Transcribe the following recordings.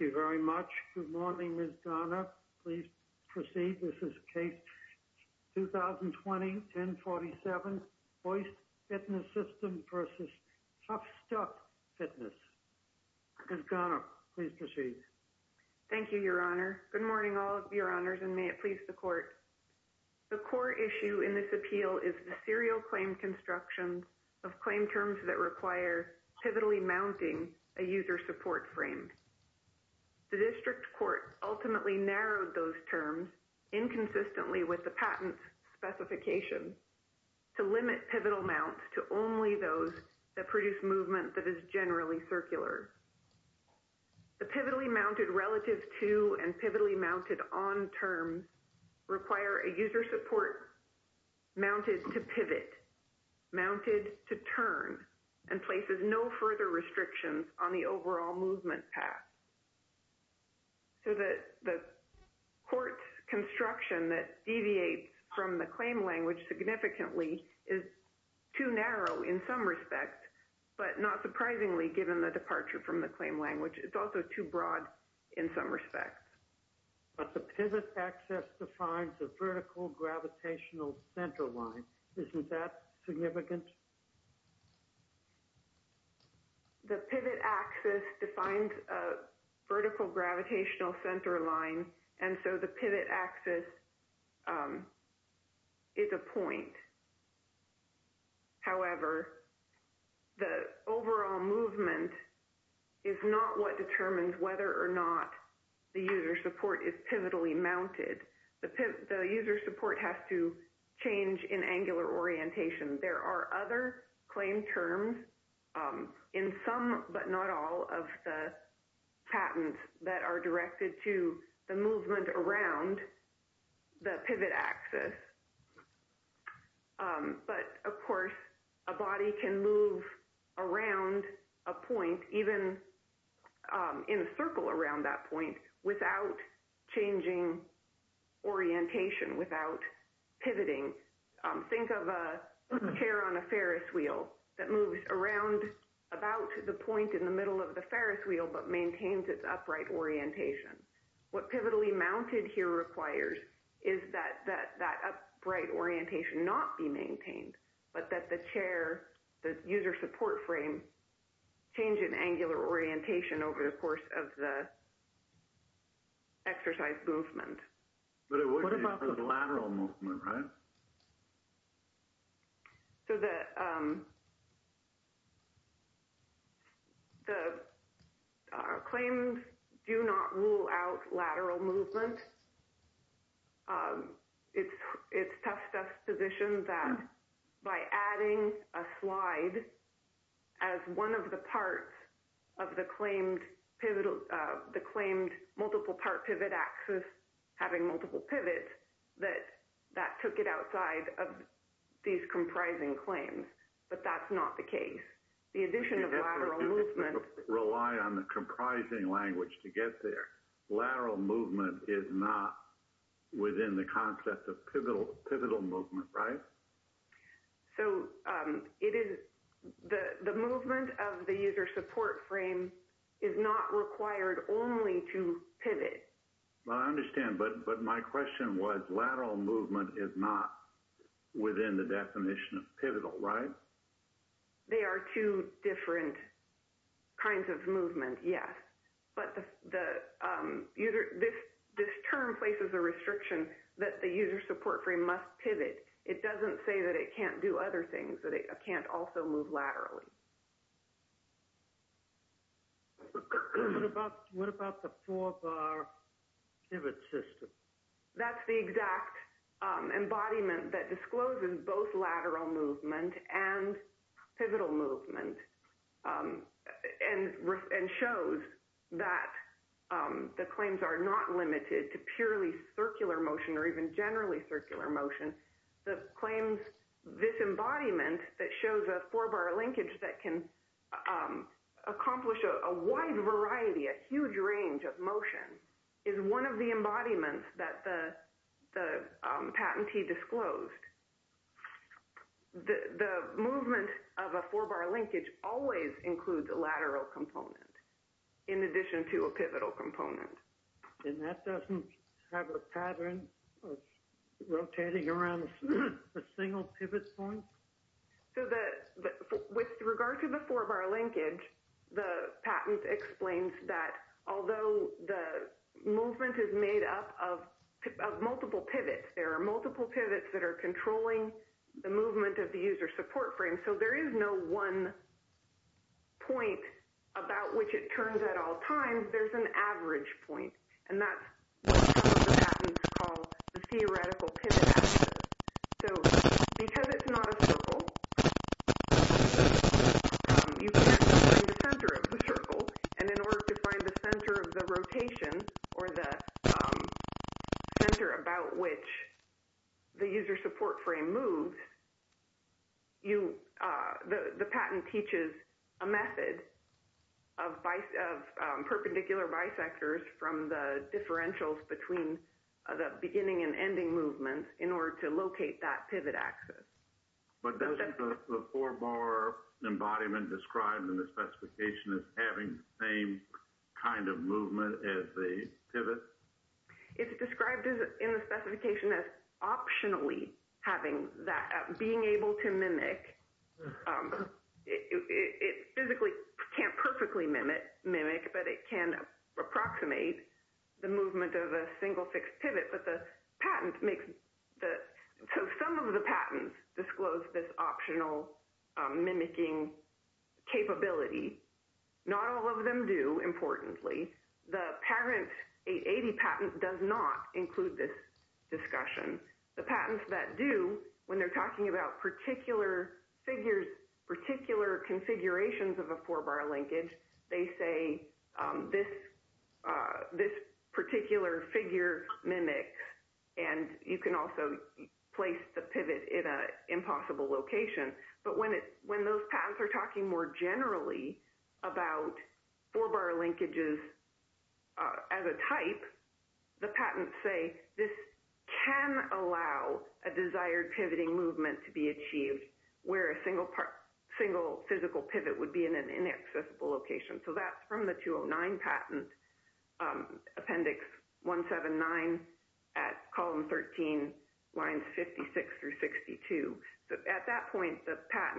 Thank you very much. Good morning, Ms. Garner. Please proceed. This is Case 2020-1047, Hoist Fitness Systems v. TuffStuff Fitness. Ms. Garner, please proceed. Thank you, Your Honor. Good morning, all of Your Honors, and may it please the Court. The core issue in this appeal is the serial claim construction of claim terms that require pivotally mounting a user support frame. The District Court ultimately narrowed those terms inconsistently with the patent specification to limit pivotal mounts to only those that produce movement that is generally circular. The pivotally mounted relative to and pivotally mounted on terms require a user support mounted to pivot, mounted to turn, and places no support further restrictions on the overall movement path. So the Court's construction that deviates from the claim language significantly is too narrow in some respects, but not surprisingly, given the departure from the claim language, it's also too broad in some respects. But the pivot access defines a vertical gravitational center line. Isn't that significant? The pivot access defines a vertical gravitational center line, and so the pivot access is a point. However, the overall movement is not what determines whether or not the user support is pivotally mounted. The user support has to change in angular orientation. There are other claim terms in some but not all of the patents that are directed to the movement around the pivot access. But, of course, a body can move around a point, even in a circle around that point, without changing orientation, without pivoting. Think of a chair on a fixed Ferris wheel that moves around about the point in the middle of the Ferris wheel but maintains its upright orientation. What pivotally mounted here requires is that that upright orientation not be maintained, but that the chair, the user support frame, change in angular orientation over the course of the exercise movement. But it would be for the lateral movement, right? So the claims do not rule out lateral movement. It's tough to position that by adding a slide as one of the parts of the claimed multiple part pivot access to the user support frame, having multiple pivots, that that took it outside of these comprising claims. But that's not the case. The addition of lateral movement... But you have to rely on the comprising language to get there. Lateral movement is not within the concept of pivotal movement, right? So it is... The movement of the user support frame is not required only to pivot. Well, I understand. But my question was, lateral movement is not within the definition of pivotal, right? They are two different kinds of movement, yes. But the user... This term places a restriction that the user support frame must pivot. It doesn't say that it can't do other things, that it can't also move laterally. What about the four-bar pivot system? That's the exact embodiment that discloses both lateral movement and pivotal movement and shows that the claims are not limited to purely circular motion or even generally circular motion. The claims... This embodiment that shows a four-bar linkage that can accomplish a wide variety, a huge range of motion, is one of the embodiments that the patentee disclosed. The movement of a four-bar linkage always includes a lateral component in addition to a pivotal component. And that doesn't have a pattern of rotating around a single pivot point? So the... With regard to the four-bar linkage, the patent explains that although the movement is made up of multiple pivots, there are multiple pivots that are controlling the movement of the user support frame. So there is no one point about which it turns at all times. There's an average point, and that's what some of the patents call the theoretical pivot axis. So because it's not a circle, you can't find the center of the circle, and in order to find the center of the rotation or the center about which the user support frame moves, you... The patent teaches a method of perpendicular bisectors from the differentials between the beginning and ending movements in order to locate that pivot axis. But doesn't the four-bar embodiment described in the specification as having the same kind of movement as the pivot? It's described in the specification as optionally having that... Being able to mimic... It physically can't perfectly mimic, but it can approximate the movement of a single fixed pivot. But the patent makes the... So some of the patents disclose this optional mimicking capability. Not all of them do, importantly. The parent 880 patent does not include this discussion. The patents that do, when they're talking about particular figures, particular configurations of a four-bar linkage, they say, this particular figure mimics, and you can also place the about four-bar linkages as a type, the patents say, this can allow a desired pivoting movement to be achieved where a single physical pivot would be in an inaccessible location. So that's from the 209 patent, appendix 179 at column 13, lines 56 through 62. So at that point, it starts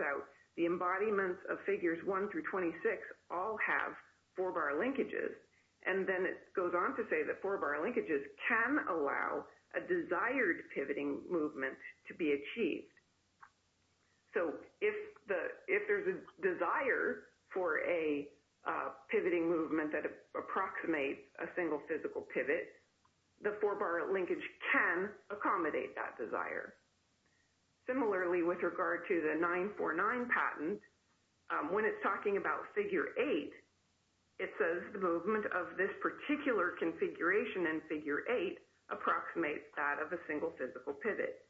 out, the embodiments of figures 1 through 26 all have four-bar linkages. And then it goes on to say that four-bar linkages can allow a desired pivoting movement to be achieved. So if there's a desire for a pivoting movement that approximates a single physical pivot, the four-bar linkage can accommodate that desire. Similarly, with regard to the 949 patent, when it's talking about figure 8, it says the movement of this particular configuration in figure 8 approximates that of a single physical pivot.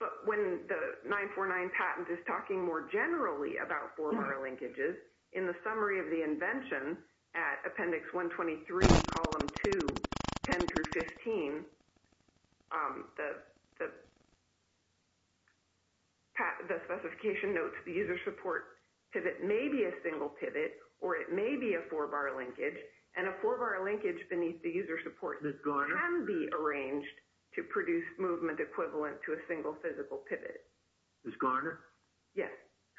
But when the 949 patent is talking more generally about four-bar linkages, in the summary of the invention at appendix 123, column 2, 10 through 15, it says that the specification notes the user support pivot may be a single pivot, or it may be a four-bar linkage. And a four-bar linkage beneath the user support can be arranged to produce movement equivalent to a single physical pivot. Ms. Garner? Yes.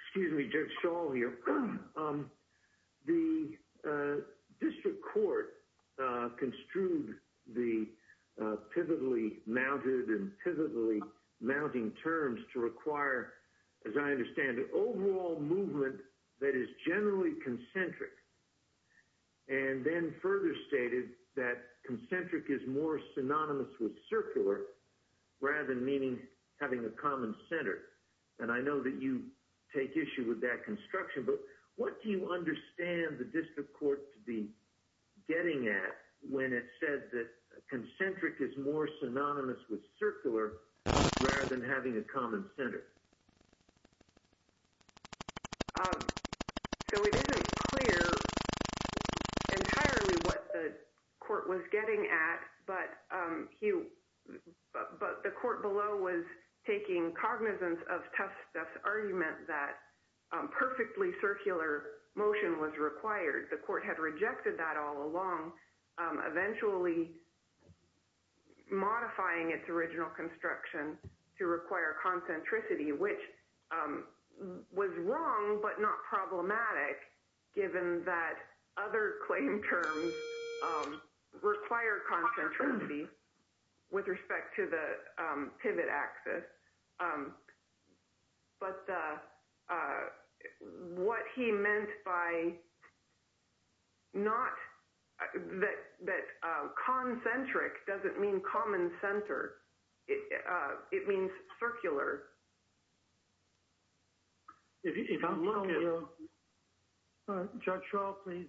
Excuse me, Judge Schall here. The district court construed the pivotally mounted movement in pivotally mounting terms to require, as I understand it, overall movement that is generally concentric, and then further stated that concentric is more synonymous with circular rather than meaning having a common center. And I know that you take issue with that construction, but what do you understand the district court to be getting at when it said that concentric is more synonymous with circular rather than having a common center? So it isn't clear entirely what the court was getting at, but the court below was taking cognizance of Tuft's argument that perfectly circular motion was required. The court had modified its original construction to require concentricity, which was wrong, but not problematic given that other claim terms require concentricity with respect to the pivot axis. But what he meant by concentric was that it didn't mean common center. It means circular. Judge Schall, please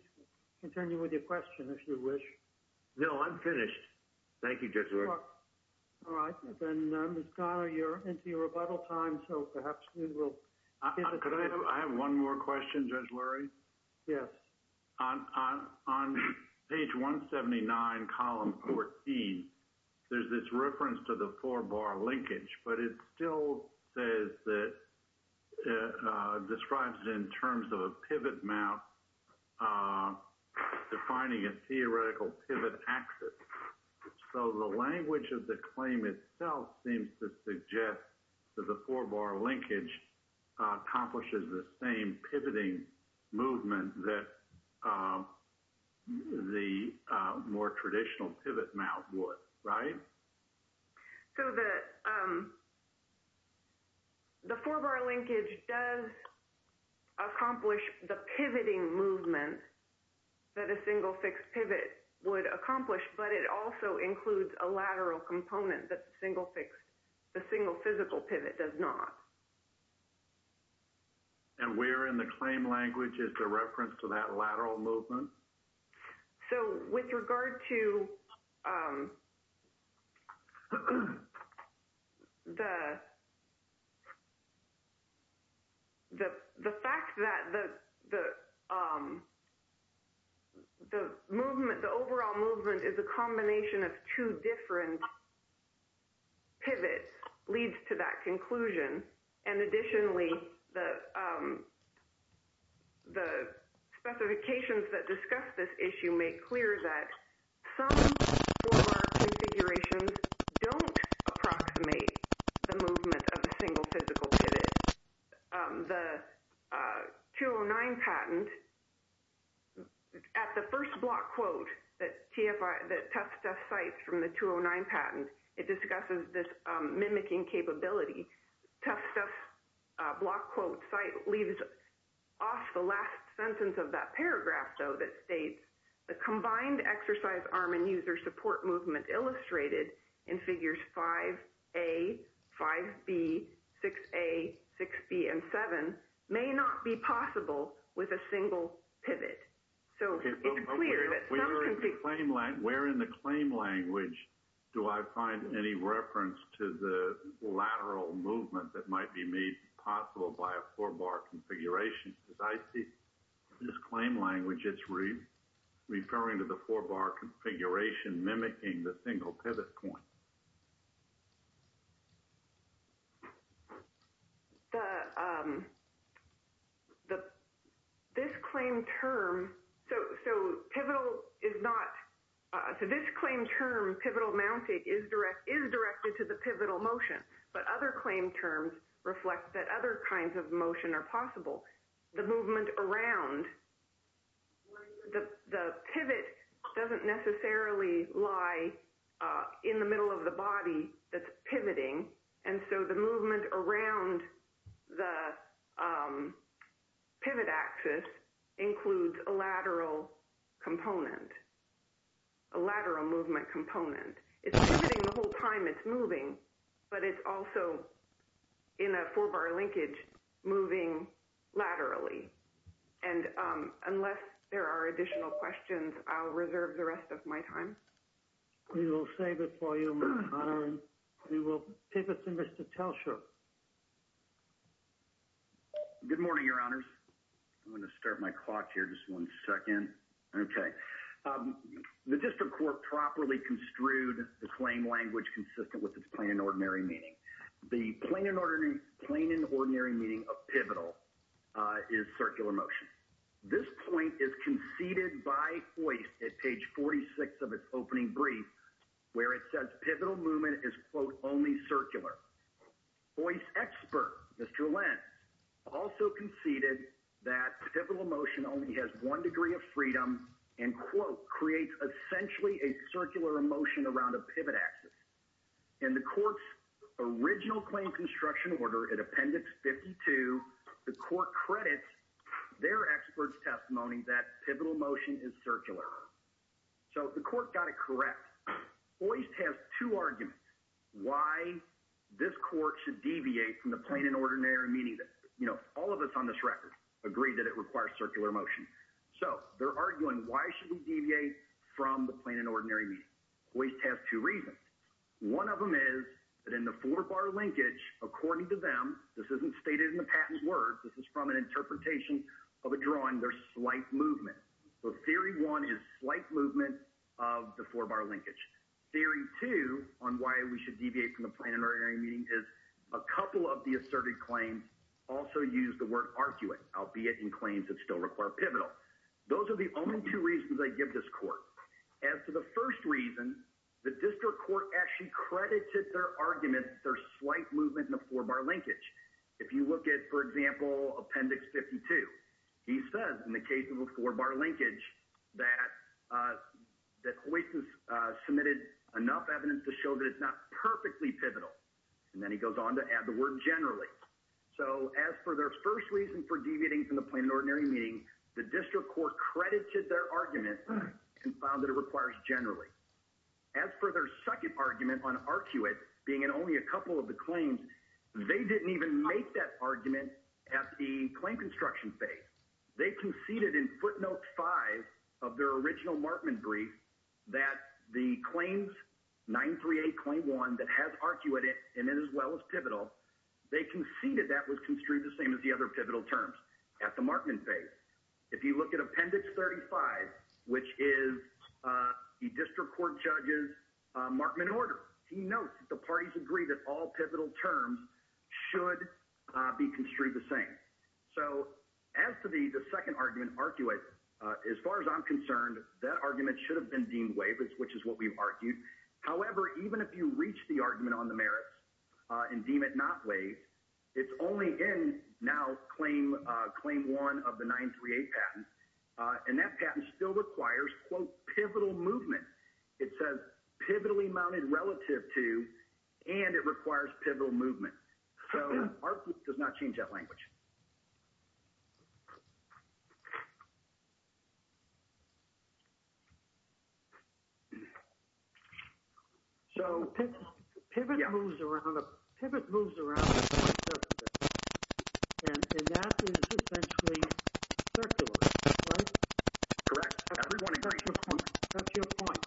continue with your question if you wish. No, I'm finished. Thank you, Judge Lurie. All right. Then, Ms. Garner, you're into your rebuttal time, so perhaps we will... Could I have one more question, Judge Lurie? Yes. On page 179, column 14, there's this reference to the four-bar linkage, but it still says that it describes it in terms of a pivot map defining a theoretical pivot axis. So the language of the claim itself seems to suggest that the four-bar linkage accomplishes the same pivoting movement that the more traditional pivot map would, right? So the four-bar linkage does accomplish the pivoting movement that a single fixed pivot would accomplish, but it also includes a lateral component that the single physical pivot does not. And where in the claim language is the reference to that lateral movement? So with regard to the fact that the overall movement is a combination of two different pivots leads to that conclusion, and additionally, the specifications that discuss this issue make clear that some four-bar configurations don't approximate the movement of a single physical pivot. The 209 patent, at the first block quote that Tufts Test cites from the 209 patent, it discusses this mimicking capability. Tufts Test block quote cite leaves off the last sentence of that paragraph, though, that states, the combined exercise arm and user support movement illustrated in figures 5A, 5B, 6A, 6B, and 7 may not be possible with a single pivot. So it's clear that the four-bar configuration does not approximate the movement of a single physical pivot. Where in the claim language do I find any reference to the lateral movement that might be made possible by a four-bar configuration? Because I see in this claim language, it's referring to the four-bar configuration mimicking the single pivot point. The, this claim term, so pivotal is not, so this claim term, pivotal mounted, is directed to the pivotal motion, but other claim terms reflect that other kinds of motion are possible. The movement around, the pivot doesn't necessarily lie in the middle of a single physical pivot. It's in the middle of the body that's pivoting, and so the movement around the pivot axis includes a lateral component, a lateral movement component. It's pivoting the whole time it's moving, but it's also in a four-bar linkage moving laterally. And unless there are additional questions, I'll reserve the rest of my time. We will save it for you, Madam. We will pivot to Mr. Telcher. Good morning, Your Honors. I'm going to start my clock here just one second. Okay. The District Court properly construed the claim language consistent with its plain and ordinary meaning. The plain and ordinary, plain and ordinary meaning of pivotal is circular motion. This point is conceded by Hoist at page 46 of its opening brief, where it says pivotal movement is, quote, only circular. Hoist expert, Mr. Lenz, also conceded that pivotal motion only has one degree of freedom and, quote, creates essentially a circular motion around a pivot axis. In the Court's original claim construction order at Appendix 52, the Court credits their expert's testimony that pivotal motion is circular. So the Court got it correct. Hoist has two arguments why this Court should deviate from the plain and ordinary meaning. All of us on this record agree that it requires circular motion. So they're arguing why should we deviate from the plain and ordinary meaning. Hoist has two reasons. One of them is that in the four-bar linkage, according to them, this isn't the case. So theory one is slight movement of the four-bar linkage. Theory two on why we should deviate from the plain and ordinary meaning is a couple of the asserted claims also use the word arguant, albeit in claims that still require pivotal. Those are the only two reasons I give this Court. As to the first reason, the District Court actually credited their argument, their slight movement in the four-bar linkage. If you look at, for example, Appendix 52, he says in the case of a four-bar linkage that Hoist has submitted enough evidence to show that it's not perfectly pivotal. And then he goes on to add the word generally. So as for their first reason for deviating from the plain and ordinary meaning, the District Court credited their argument and found that it requires generally. As for their second argument on ARCUIT being in only a couple of the claims, they didn't even make that claim. They found in Appendix 35 of their original Martman brief that the claims, 938, claim 1, that has ARCUIT in it as well as pivotal, they conceded that was construed the same as the other pivotal terms at the Martman phase. If you look at Appendix 35, which is the District Court judge's Martman order, he notes that the parties agree that all pivotal terms should be construed the same. So as to the second argument, ARCUIT, as far as I'm concerned, that argument should have been deemed waived, which is what we've argued. However, even if you reach the argument on the merits and deem it not waived, it's only in now claim 1 of the 938 patent, and that patent still requires, quote, pivotal movement. It says pivotally mounted relative to, and it requires pivotal movement. So ARCUIT does not change that language. So pivot moves around, pivot moves around, and that is essentially circular, right? Correct. That's your point.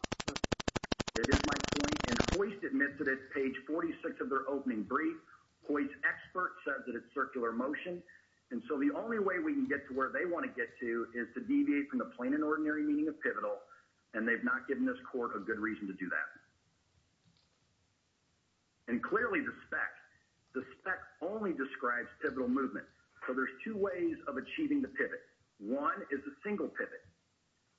Hoist admits that it's page 46 of their opening brief. Hoist's expert says that it's circular motion. And so the only way we can get to where they want to get to is to deviate from the plain and ordinary meaning of pivotal, and they've not given this court a good reason to do that. And clearly the spec, the spec only describes pivotal movement. So there's two ways of achieving the pivot. One is the single pivot.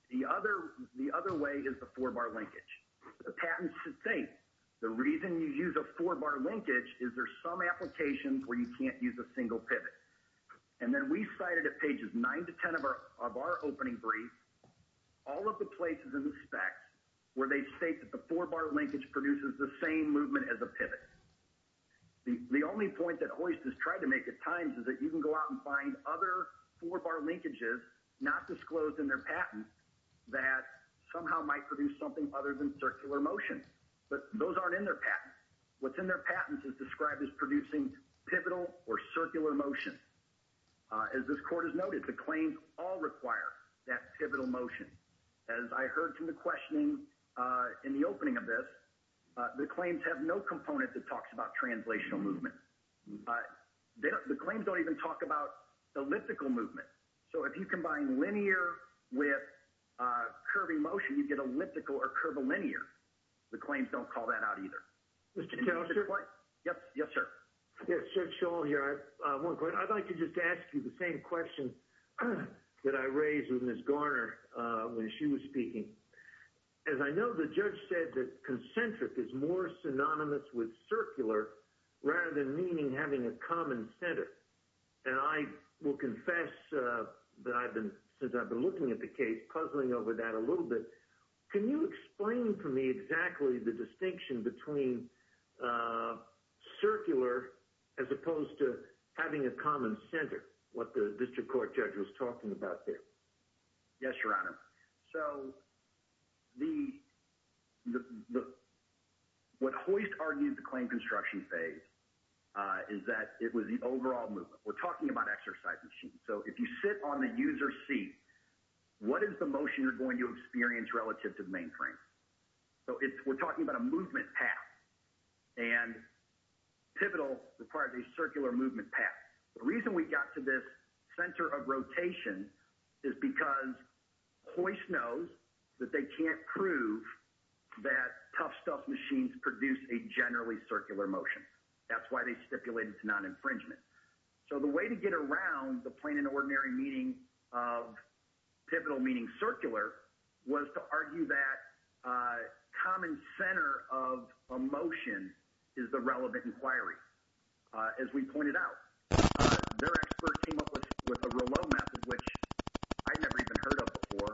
The other way is the four-bar linkage. The patent should state the reason you use a four-bar linkage is there's some applications where you can't use a single pivot. And then we cited at pages 9 to 10 of our opening brief all of the places in the spec where they state that the four-bar linkage produces the same movement as a pivot. The only point that Hoist has tried to make at times is that you can go out and find other four-bar linkages not disclosed in their patent that somehow might produce something other than circular motion. But those aren't in their patent. What's in their patent is described as producing pivotal or circular motion. As this court has noted, the claims all require that pivotal motion. As I heard from the questioning in the opening of this, the claims have no component that talks about translational movement. The claims don't even talk about elliptical movement. So if you combine linear with curving motion, you get elliptical or curvilinear. The claims don't even talk about elliptical movement. The claims don't call that out either. Yes, sir? I'd like to just ask you the same question that I raised with Ms. Garner when she was speaking. As I know, the judge said that concentric is more synonymous with circular, rather than meaning having a common center, and I will confess that I've been, since I've been looking at the case, puzzling over that a little bit. Can you explain to me exactly the distinction between circular as opposed to having a common center, what the district court judge was talking about there? Yes, Your Honor. So, what Hoist argued the claim construction phase is that it was the overall movement. We're talking about exercise machines. So if you sit on the user seat, what is the motion you're going to experience relative to the mainframe? So we're talking about a movement path, and Pivotal required a circular movement path. The reason we got to this center of rotation is because Hoist knows that they can't prove that Tough Stuff machines produce a generally circular motion. That's why they stipulated to non-infringement. So the way to get around the plain and ordinary meaning of Pivotal meaning circular was to argue that common center of emotion is the relevant inquiry. As we pointed out, their expert came up with a Rouleau method, which I'd never even heard of before.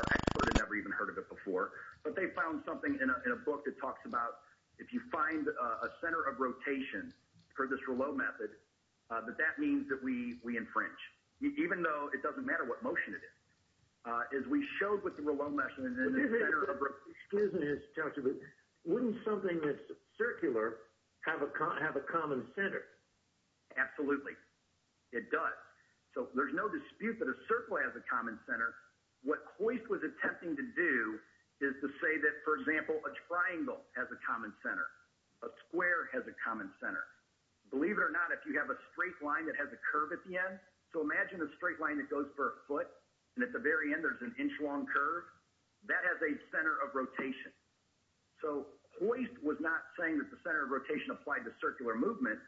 Our expert had never even heard of it before. But they found something in a book that talks about if you find a center of rotation for this Rouleau method, that that means that we infringe, even though it doesn't matter what motion it is. Wouldn't something that's circular have a common center? Absolutely. It does. So there's no dispute that a circle has a common center. What Hoist was attempting to do is to say that, for example, a triangle has a common center. A square has a common center. Believe it or not, if you have a straight line that has a curve at the end, so imagine a straight line that goes for a foot, and at the very end there's an inch-long curve. That has a center of rotation. So Hoist was not saying that the center of rotation applied to circular movement.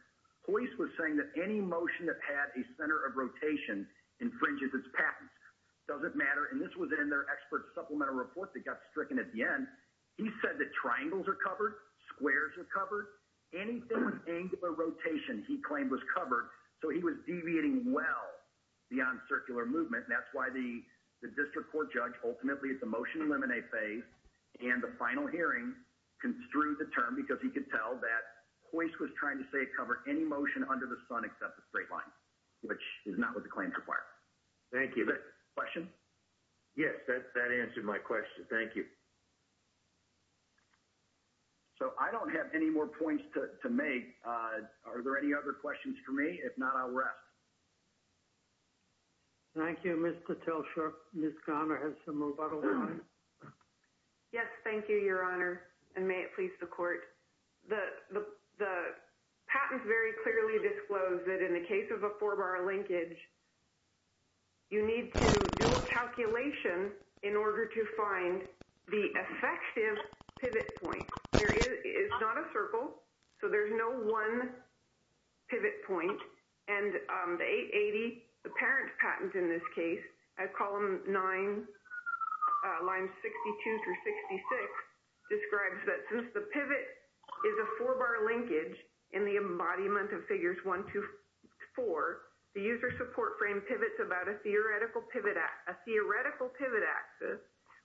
Hoist was saying that any motion that had a center of rotation infringes its patents. It doesn't matter. And this was in their expert supplemental report that got stricken at the end. He said that triangles are covered. Squares are covered. Anything with angular rotation, he claimed, was covered. So he was deviating well beyond circular movement. And that's why the district court judge ultimately at the motion eliminate phase and the final hearing construed the term because he could tell that Hoist was trying to say it covered any motion under the sun except the straight line, which is not what the claims require. Thank you. Question? Yes, that answered my question. Thank you. So I don't have any more points to make. Are there any other questions for me? If not, I'll rest. Thank you, Mr. Tiltshurst. Ms. Garner has some more. Yes, thank you, Your Honor, and may it please the court. The patent very clearly disclosed that in the case of a four-bar linkage, you need to do a calculation in order to find the one pivot point. And the 880, the parent patent in this case, column 9, lines 62 through 66, describes that since the pivot is a four-bar linkage in the embodiment of figures 1 to 4, the user support frame pivots about a theoretical pivot axis,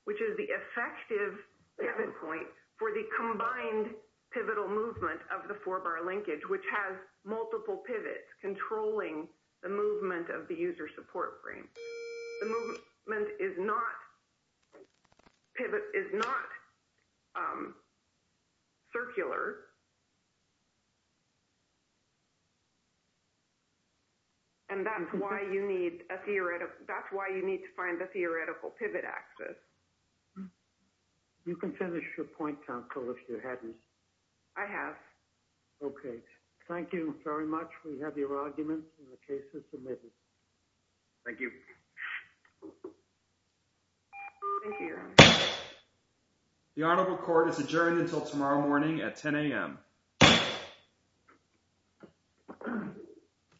which is the effective pivot point for the combined pivotal movement of the four-bar linkage, which has multiple pivots controlling the movement of the user support frame. The movement is not circular, and that's why you need to find the theoretical pivot axis. You can finish your point, counsel, if you hadn't. I have. Okay. Thank you very much. We have your arguments in the case of submitted. Thank you. The Honorable Court is adjourned until tomorrow morning at 10 a.m.